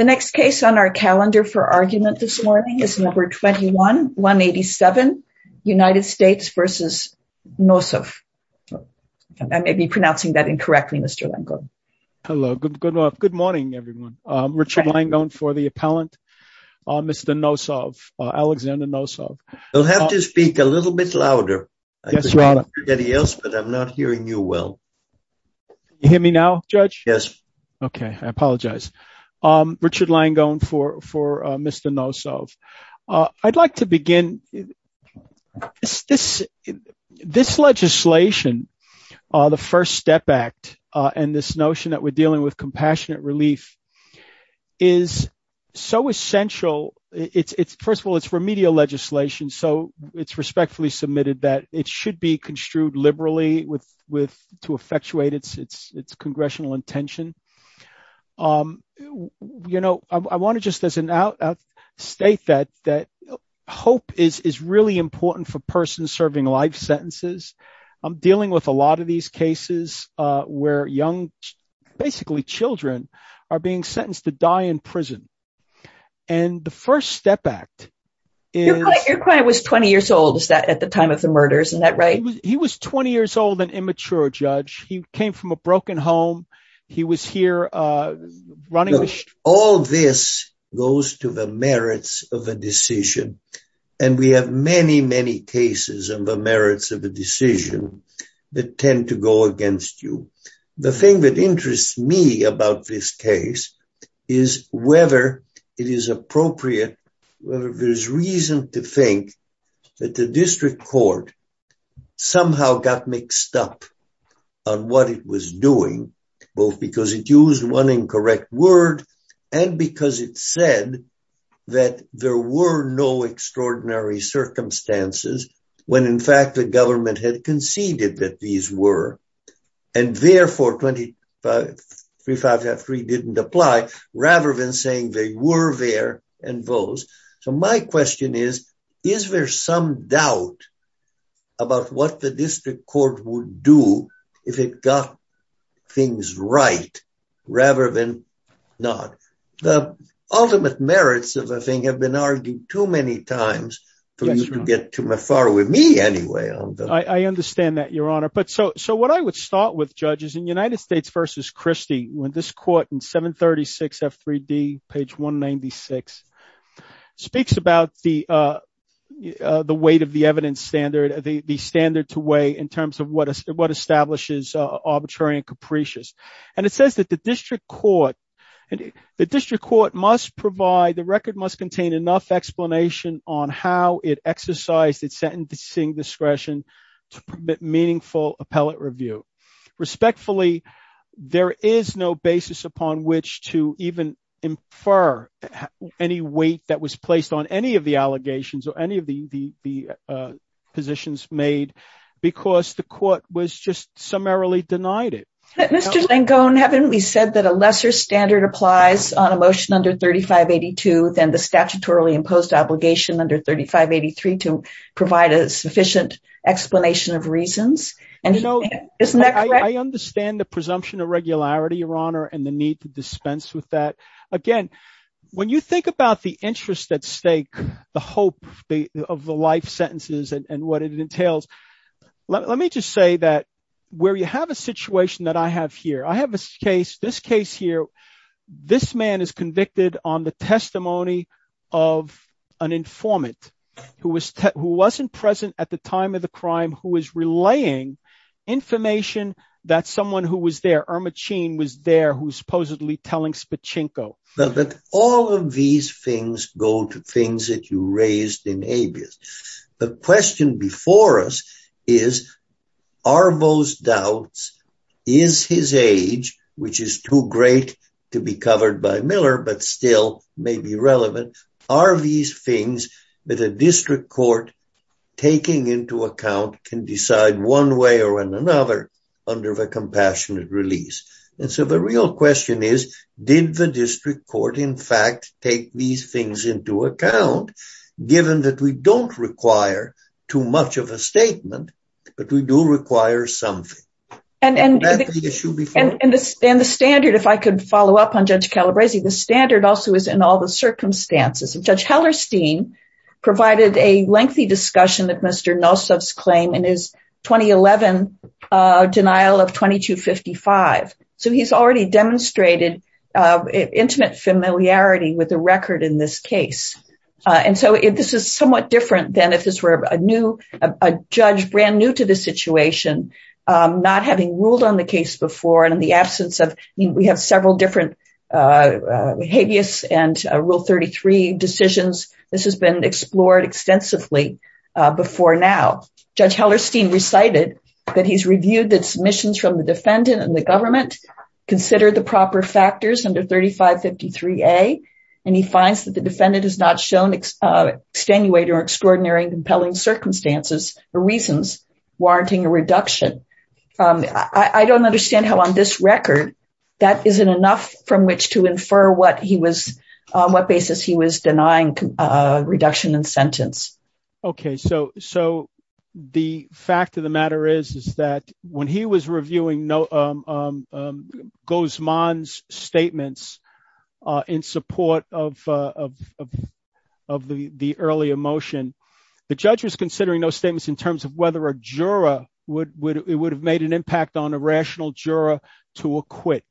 The next case on our calendar for argument this morning is No. 21-187, United States v. Nosov. I may be pronouncing that incorrectly, Mr. Langone. Hello. Good morning, everyone. Richard Langone for the appellant. Mr. Nosov. Alexander Nosov. You'll have to speak a little bit louder. Yes, Your Honor. I could hear everybody else, but I'm not hearing you well. Can you hear me now, Judge? Yes. Okay. Okay. I apologize. Richard Langone for Mr. Nosov. I'd like to begin, this legislation, the First Step Act, and this notion that we're dealing with compassionate relief is so essential, it's, first of all, it's remedial legislation, so it's respectfully submitted that it should be construed liberally with, to effectuate its congressional intention. You know, I want to just as an out, state that hope is really important for persons serving life sentences. I'm dealing with a lot of these cases where young, basically children, are being sentenced to die in prison. And the First Step Act is- Your client was 20 years old at the time of the murders, isn't that right? He was 20 years old, an immature judge. He came from a broken home. He was here running the- All this goes to the merits of a decision. And we have many, many cases on the merits of a decision that tend to go against you. The thing that interests me about this case is whether it is appropriate, whether there's reason to think that the district court somehow got mixed up on what it was doing, both because it used one incorrect word, and because it said that there were no extraordinary circumstances when in fact the government had conceded that these were. And therefore, 2535.3 didn't apply, rather than saying they were there and those. So my question is, is there some doubt about what the district court would do if it got things right, rather than not? The ultimate merits of the thing have been argued too many times for you to get too far with me anyway. I understand that, Your Honor. But so what I would start with, judges, in United States v. when this court in 736 F.3.D., page 196, speaks about the weight of the evidence standard, the standard to weigh in terms of what establishes arbitrary and capricious. And it says that the district court must provide, the record must contain enough explanation on how it exercised its sentencing discretion to permit meaningful appellate review. Respectfully, there is no basis upon which to even infer any weight that was placed on any of the allegations or any of the positions made because the court was just summarily denied it. Mr. Langone, haven't we said that a lesser standard applies on a motion under 3582 than the statutorily imposed obligation under 3583 to provide a sufficient explanation of reasons? And, you know, I understand the presumption of regularity, Your Honor, and the need to dispense with that. Again, when you think about the interest at stake, the hope of the life sentences and what it entails. Let me just say that where you have a situation that I have here, I have a case, this case here. This man is convicted on the testimony of an informant who was who wasn't present at the time of the crime, who was relaying information that someone who was there, Irma Chin, was there who supposedly telling Spachinko. But all of these things go to things that you raised in habeas. The question before us is, are those doubts, is his age, which is too great to be covered by Miller, but still may be relevant. Are these things that a district court taking into account can decide one way or another under the compassionate release? And so the real question is, did the district court, in fact, take these things into account, given that we don't require too much of a statement, but we do require something. And the standard, if I could follow up on Judge Calabresi, the standard also is in all the circumstances. Judge Hellerstein provided a lengthy discussion that Mr. Nosov's claim in his 2011 denial of 2255. So he's already demonstrated intimate familiarity with the record in this case. And so this is somewhat different than if this were a new judge, brand new to the situation, not having ruled on the case before. And in the absence of we have several different habeas and rule 33 decisions, this has been explored extensively before now. Judge Hellerstein recited that he's reviewed the submissions from the defendant and the government considered the proper factors under 3553A. And he finds that the defendant has not shown extenuating or extraordinary and compelling circumstances or reasons warranting a reduction. I don't understand how on this record that isn't enough from which to infer what he was on, what basis he was denying reduction in sentence. OK, so so the fact of the matter is, is that when he was reviewing no goes man's statements in support of of of the earlier motion, the judge was considering those statements in terms of whether a juror would it would have made an impact on a rational juror to acquit.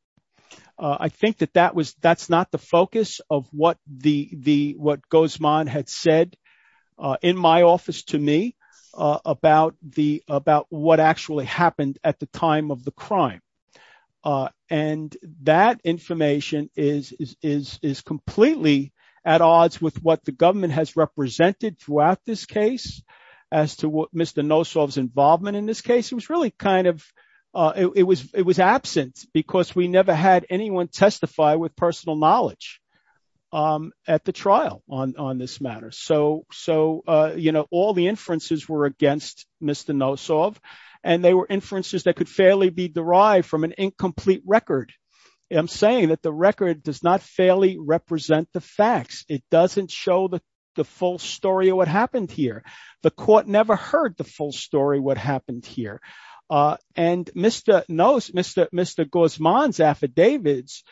I think that that was that's not the focus of what the the what goes man had said in my office to me about the about what actually happened at the time of the crime. And that information is is is completely at odds with what the government has represented throughout this case as to what Mr. Nosov's involvement in this case was really kind of it was it was absent because we never had anyone testify with personal knowledge at the trial on this matter. So so, you know, all the inferences were against Mr. Nosov and they were inferences that could fairly be derived from an incomplete record. I'm saying that the record does not fairly represent the facts. It doesn't show the the full story of what happened here. The court never heard the full story, what happened here. And Mr. Nosov, Mr. Gosman's affidavits,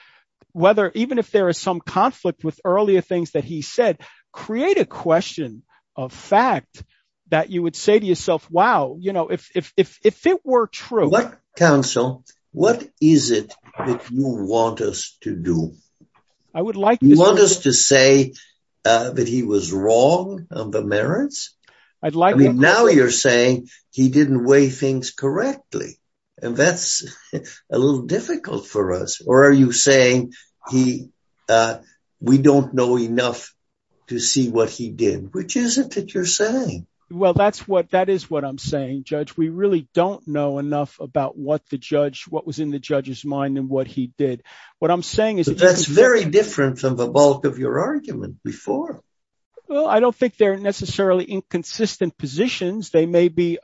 whether even if there is some conflict with earlier things that he said, create a question of fact that you would say to yourself, wow, you know, if if if if it were true. What counsel, what is it that you want us to do? I would like you want us to say that he was wrong on the merits. I'd like to know you're saying he didn't weigh things correctly and that's a little difficult for us. Or are you saying he we don't know enough to see what he did, which isn't that you're saying? Well, that's what that is, what I'm saying, Judge. We really don't know enough about what the judge what was in the judge's mind and what he did. What I'm saying is that's very different from the bulk of your argument before. Well, I don't think they're necessarily inconsistent positions. They may be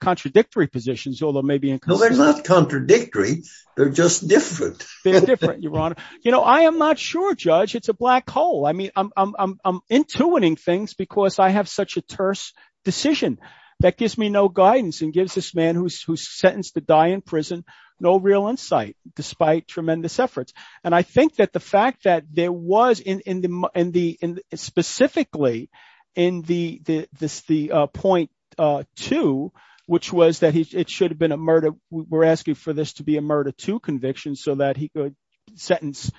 contradictory positions, although maybe not contradictory. They're just different. They're different, Your Honor. You know, I am not sure, Judge. It's a black hole. I mean, I'm intuiting things because I have such a terse decision that gives me no guidance and gives this man who's sentenced to die in prison no real insight, despite tremendous efforts. And I think that the fact that there was in the in the in specifically in the this the point to which was that it should have been a murder. We're asking for this to be a murder to conviction so that he could sentence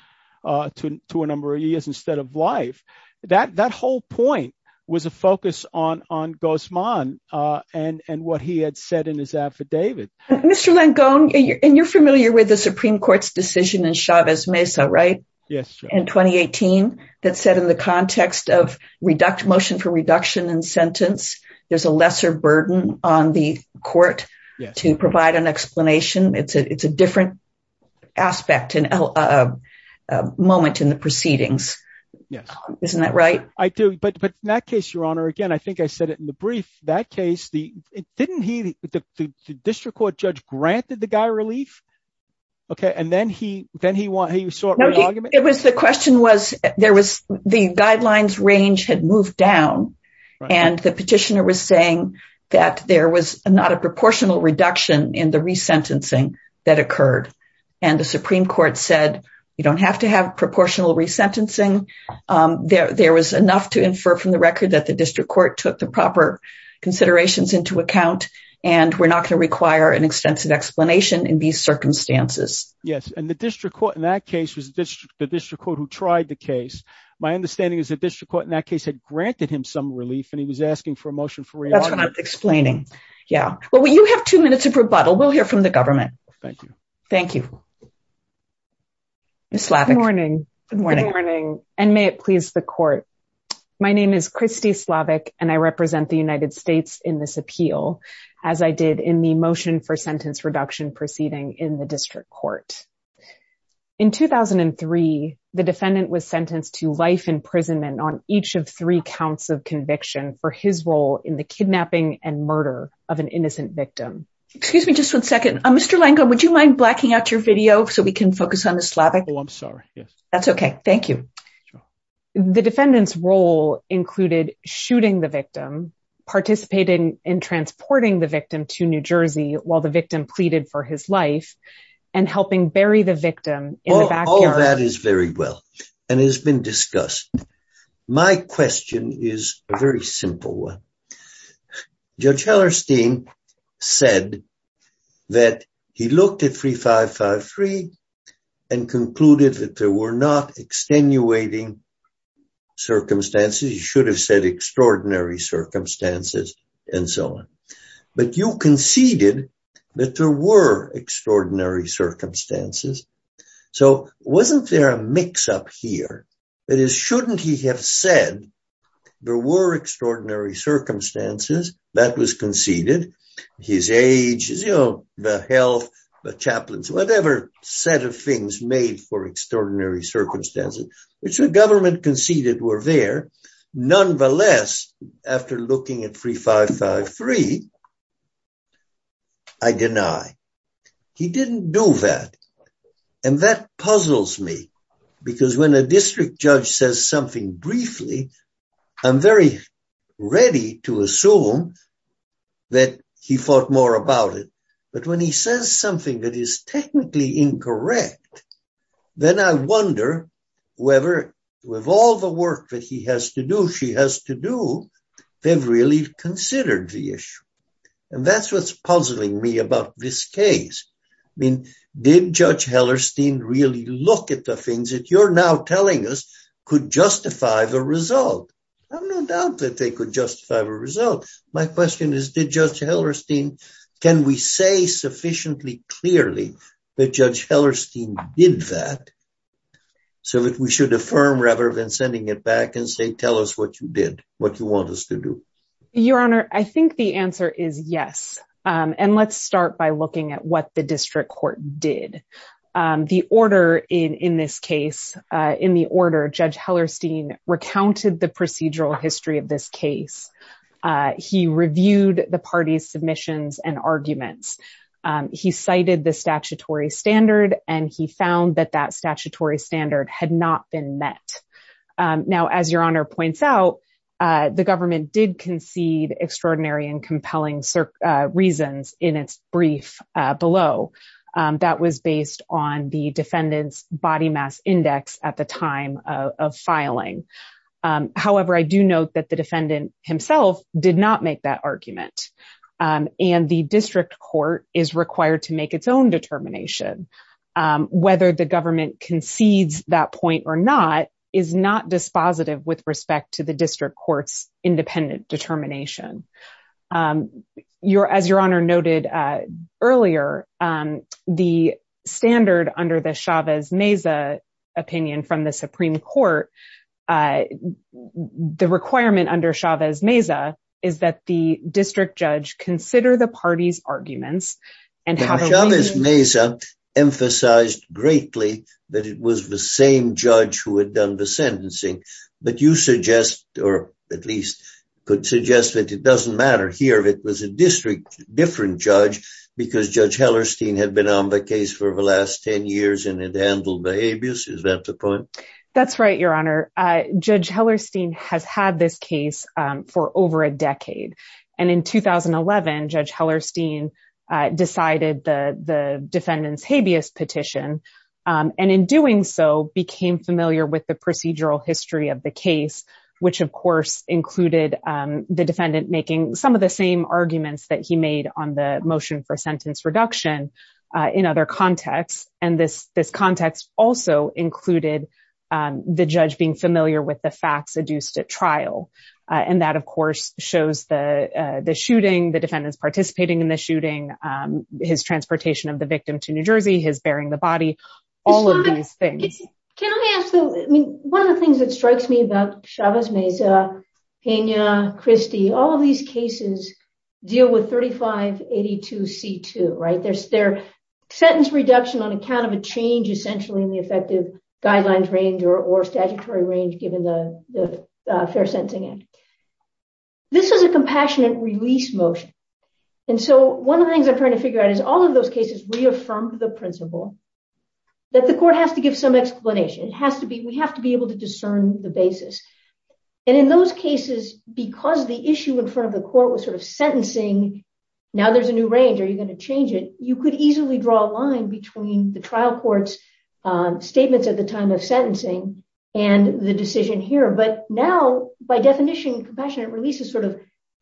to a number of years instead of life. That that whole point was a focus on on Guzman and what he had said in his affidavit. Mr. Langone, and you're familiar with the Supreme Court's decision in Chavez Mesa, right? Yes. In 2018, that said, in the context of reduct motion for reduction in sentence, there's a lesser burden on the court to provide an explanation. It's a it's a different aspect and a moment in the proceedings. Yes. Isn't that right? I do. But but in that case, Your Honor, again, I think I said it in the brief. That case, the didn't he the district court judge granted the guy relief. OK, and then he then he won. He was so it was the question was there was the guidelines range had moved down and the petitioner was saying that there was not a proportional reduction in the resentencing that occurred. And the Supreme Court said you don't have to have proportional resentencing. There was enough to infer from the record that the district court took the proper considerations into account and we're not going to require an extensive explanation in these circumstances. Yes. And the district court in that case was the district court who tried the case. My understanding is the district court in that case had granted him some relief and he was asking for a motion for explaining. Yeah. Well, you have two minutes of rebuttal. We'll hear from the government. Thank you. Thank you. Good morning. Good morning. And may it please the court. My name is Kristi Slavic and I represent the United States in this appeal, as I did in the motion for sentence reduction proceeding in the district court. In 2003, the defendant was sentenced to life imprisonment on each of three counts of conviction for his role in the kidnapping and murder of an innocent victim. Excuse me, just one second. Mr. Langone, would you mind blacking out your video so we can focus on the Slavic? Oh, I'm sorry. Yes. That's OK. Thank you. The defendant's role included shooting the victim, participating in transporting the victim to New Jersey while the victim pleaded for his life and helping bury the victim in the backyard. All of that is very well and has been discussed. My question is a very simple one. Judge Hellerstein said that he looked at 3553 and concluded that there were not extenuating circumstances. He should have said extraordinary circumstances and so on. But you conceded that there were extraordinary circumstances. So wasn't there a mix up here? That is, shouldn't he have said there were extraordinary circumstances that was conceded? His age, you know, the health, the chaplains, whatever set of things made for extraordinary circumstances, which the government conceded were there. Nonetheless, after looking at 3553, I deny he didn't do that. And that puzzles me, because when a district judge says something briefly, I'm very ready to assume that he thought more about it. But when he says something that is technically incorrect, then I wonder whether with all the work that he has to do, she has to do, they've really considered the issue. And that's what's puzzling me about this case. I mean, did Judge Hellerstein really look at the things that you're now telling us could justify the result? I have no doubt that they could justify the result. My question is, did Judge Hellerstein, can we say sufficiently clearly that Judge Hellerstein did that so that we should affirm rather than sending it back and say, tell us what you did, what you want us to do? Your Honor, I think the answer is yes. And let's start by looking at what the district court did. The order in this case, in the order, Judge Hellerstein recounted the procedural history of this case. He reviewed the party's submissions and arguments. He cited the statutory standard, and he found that that statutory standard had not been met. Now, as Your Honor points out, the government did concede extraordinary and compelling reasons in its brief below. That was based on the defendant's body mass index at the time of filing. However, I do note that the defendant himself did not make that argument, and the district court is required to make its own determination. Whether the government concedes that point or not is not dispositive with respect to the district court's independent determination. As Your Honor noted earlier, the standard under the Chavez-Meza opinion from the Supreme Court, the requirement under Chavez-Meza is that the district judge consider the party's arguments. Chavez-Meza emphasized greatly that it was the same judge who had done the sentencing, but you suggest, or at least could suggest that it doesn't matter here if it was a district, different judge, because Judge Hellerstein had been on the case for the last 10 years and had handled the habeas, is that the point? That's right, Your Honor. Judge Hellerstein has had this case for over a decade. And in 2011, Judge Hellerstein decided the defendant's habeas petition, and in doing so, became familiar with the procedural history of the case, which, of course, included the defendant making some of the same arguments that he made on the motion for sentence reduction in other contexts, and this context also included the judge being familiar with the facts adduced at trial. And that, of course, shows the shooting, the defendant's participating in the shooting, his transportation of the victim to New Jersey, his burying the body, all of these things. Can I ask, though, one of the things that strikes me about Chavez-Meza, Pena, Christie, all of these cases deal with 3582C2, right? They're sentence reduction on account of a change, essentially, in the effective guidelines range or statutory range, given the Fair Sentencing Act. This is a compassionate release motion. And so one of the things I'm trying to figure out is all of those cases reaffirmed the principle that the court has to give some explanation. We have to be able to discern the basis. And in those cases, because the issue in front of the court was sort of sentencing, now there's a new range. Are you going to change it? You could easily draw a line between the trial court's statements at the time of sentencing and the decision here. But now, by definition, compassionate releases sort of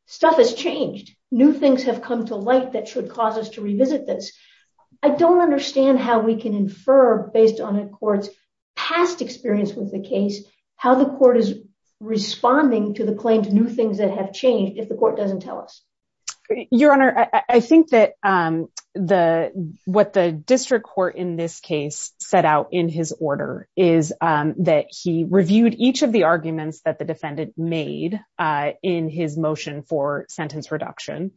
stuff has changed. New things have come to light that should cause us to revisit this. I don't understand how we can infer, based on a court's past experience with the case, how the court is responding to the claim to new things that have changed if the court doesn't tell us. Your Honor, I think that what the district court in this case set out in his order is that he reviewed each of the arguments that the defendant made in his motion for sentence reduction,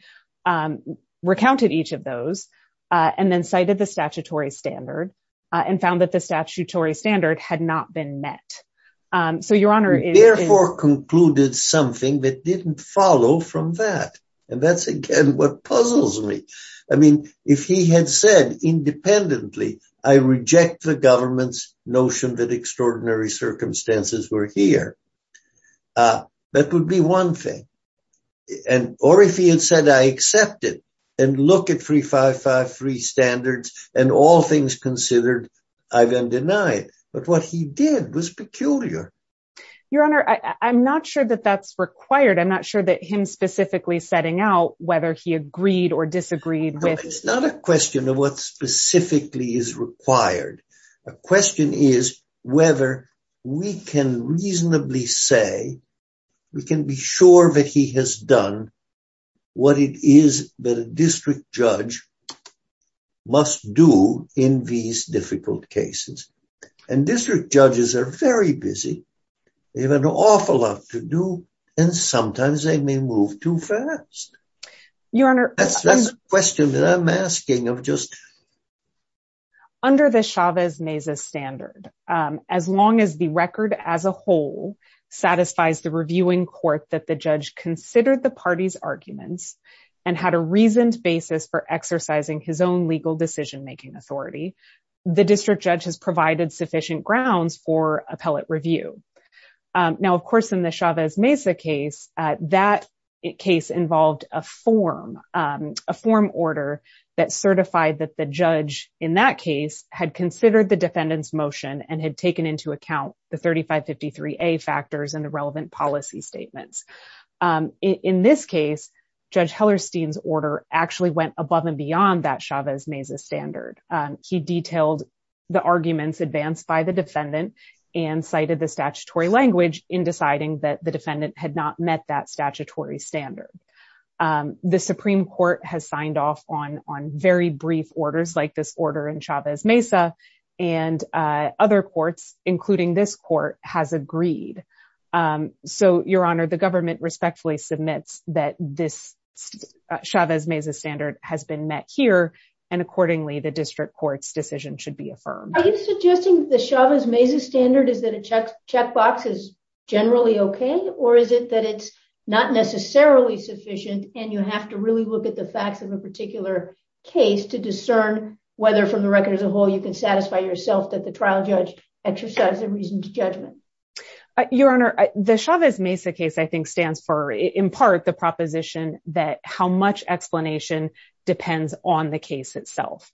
recounted each of those, and then cited the statutory standard and found that the statutory standard had not been met. So, Your Honor, He therefore concluded something that didn't follow from that. And that's, again, what puzzles me. I mean, if he had said independently, I reject the government's notion that extraordinary circumstances were here. That would be one thing. And or if he had said, I accept it and look at 355-3 standards and all things considered, I then deny it. But what he did was peculiar. Your Honor, I'm not sure that that's required. I'm not sure that him specifically setting out whether he agreed or disagreed. It's not a question of what specifically is required. A question is whether we can reasonably say we can be sure that he has done what it is that a district judge must do in these difficult cases. And district judges are very busy. They have an awful lot to do. And sometimes they may move too fast. That's the question that I'm asking of just Under the Chavez-Mesa standard, as long as the record as a whole satisfies the reviewing court that the judge considered the party's arguments and had a reasoned basis for exercising his own legal decision making authority, the district judge has provided sufficient grounds for appellate review. Now, of course, in the Chavez-Mesa case, that case involved a form, a form order that certified that the judge in that case had considered the defendant's motion and had taken into account the 3553-A factors and the relevant policy statements. In this case, Judge Hellerstein's order actually went above and beyond that Chavez-Mesa standard. He detailed the arguments advanced by the defendant and cited the statutory language in deciding that the defendant had not met that statutory standard. The Supreme Court has signed off on on very brief orders like this order in Chavez-Mesa and other courts, including this court, has agreed. So, Your Honor, the government respectfully submits that this Chavez-Mesa standard has been met here and accordingly the district court's decision should be affirmed. Are you suggesting the Chavez-Mesa standard is that a checkbox is generally okay, or is it that it's not necessarily sufficient and you have to really look at the facts of a particular case to discern whether, from the record as a whole, you can satisfy yourself that the trial judge exercised a reasoned judgment? Your Honor, the Chavez-Mesa case, I think, stands for, in part, the proposition that how much explanation depends on the case itself.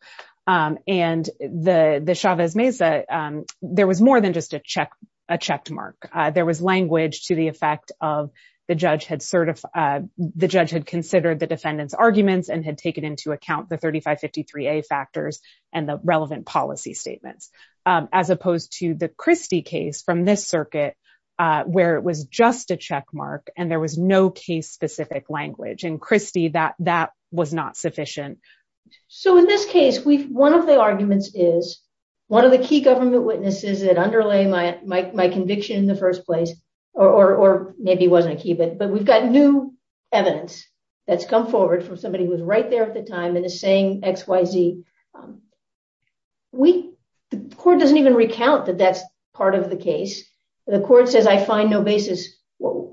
And the Chavez-Mesa, there was more than just a check, a checked mark. There was language to the effect of the judge had certified, the judge had considered the defendant's arguments and had taken into account the 3553-A factors and the relevant policy statements, as opposed to the Christie case from this circuit, where it was just a checkmark and there was no case-specific language. In Christie, that was not sufficient. So, in this case, one of the arguments is, one of the key government witnesses that underlay my conviction in the first place, or maybe wasn't a key, but we've got new evidence that's come forward from somebody who was right there at the time and is saying, X, Y, Z. The court doesn't even recount that that's part of the case. The court says, I find no basis.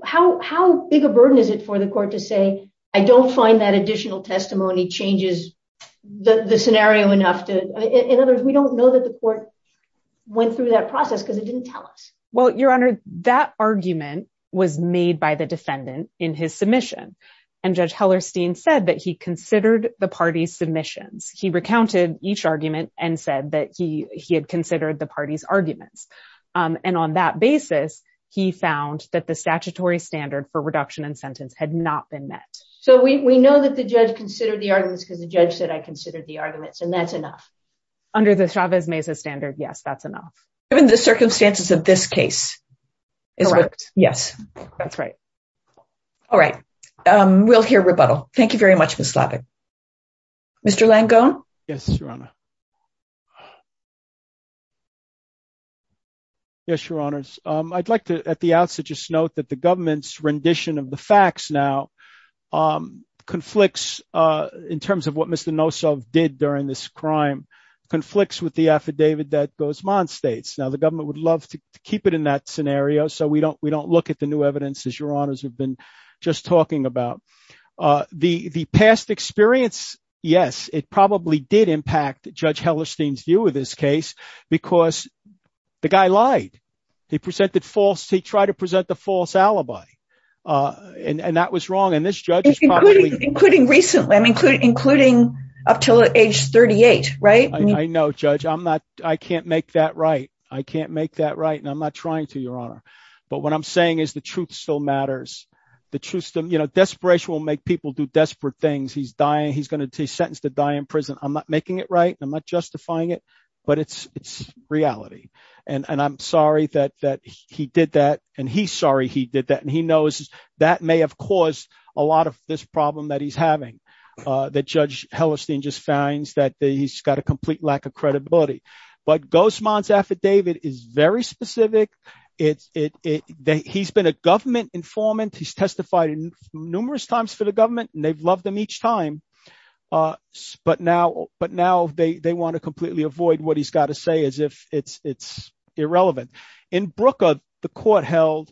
How big a burden is it for the court to say, I don't find that additional testimony changes the scenario enough to, in other words, we don't know that the court went through that process because it didn't tell us? Well, Your Honor, that argument was made by the defendant in his submission. And Judge Hellerstein said that he considered the party's submissions. He recounted each argument and said that he had considered the party's arguments. And on that basis, he found that the statutory standard for reduction in sentence had not been met. So we know that the judge considered the arguments because the judge said, I considered the arguments and that's enough. Under the Chavez-Meza standard, yes, that's enough. Given the circumstances of this case. Yes, that's right. All right. We'll hear rebuttal. Thank you very much, Ms. Labick. Mr. Langone? Yes, Your Honor. Yes, Your Honors. I'd like to, at the outset, just note that the government's rendition of the facts now conflicts in terms of what Mr. Nosov did during this crime, conflicts with the affidavit that Guzman states. Now, the government would love to keep it in that scenario so we don't we don't look at the new evidence, as Your Honors have been just talking about. The past experience, yes, it probably did impact Judge Hellerstein's view of this case because the guy lied. He presented false, he tried to present the false alibi and that was wrong. And this judge is probably... Including recently, including up till age 38, right? I know, Judge. I'm not, I can't make that right. I can't make that right and I'm not trying to, Your Honor. But what I'm saying is the truth still matters. The truth, you know, desperation will make people do desperate things. He's dying. He's going to be sentenced to die in prison. I'm making it right. I'm not justifying it. But it's reality. And I'm sorry that he did that. And he's sorry he did that. And he knows that may have caused a lot of this problem that he's having that Judge Hellerstein just finds that he's got a complete lack of credibility. But Guzman's affidavit is very specific. He's been a government informant. He's testified numerous times for the government and they've loved them each time. But now they want to completely avoid what he's got to say as if it's irrelevant. In Brooker, the court held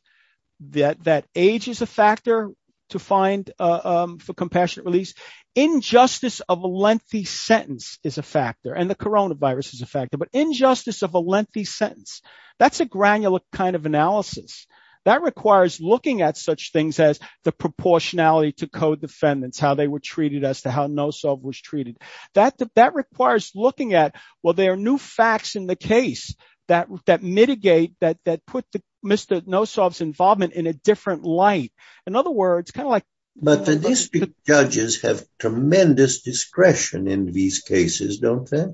that age is a factor to find for compassionate release. Injustice of a lengthy sentence is a factor and the coronavirus is a factor. But injustice of a lengthy sentence, that's a granular kind of analysis that requires looking at such things as the proportionality to co-defendants, how they were treated, as to how Nosov was treated. That requires looking at, well, there are new facts in the case that mitigate, that put Mr. Nosov's involvement in a different light. In other words, kind of like. But the district judges have tremendous discretion in these cases, don't they?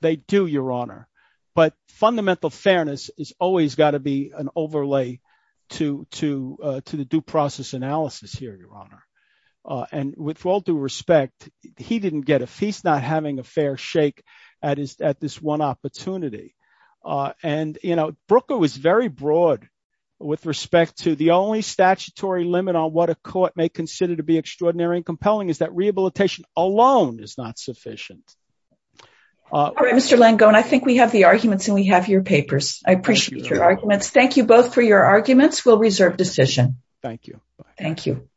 They do, Your Honor. But fundamental fairness has always got to be an overlay to the due process analysis here, Your Honor. And with all due respect, he didn't get a, he's not having a fair shake at this one opportunity. And, you know, Brooker was very broad with respect to the only statutory limit on what a court may consider to be sufficient. I think that alone is not sufficient. All right, Mr. Langone, I think we have the arguments and we have your papers. I appreciate your arguments. Thank you both for your arguments. We'll reserve decision. Thank you. Thank you.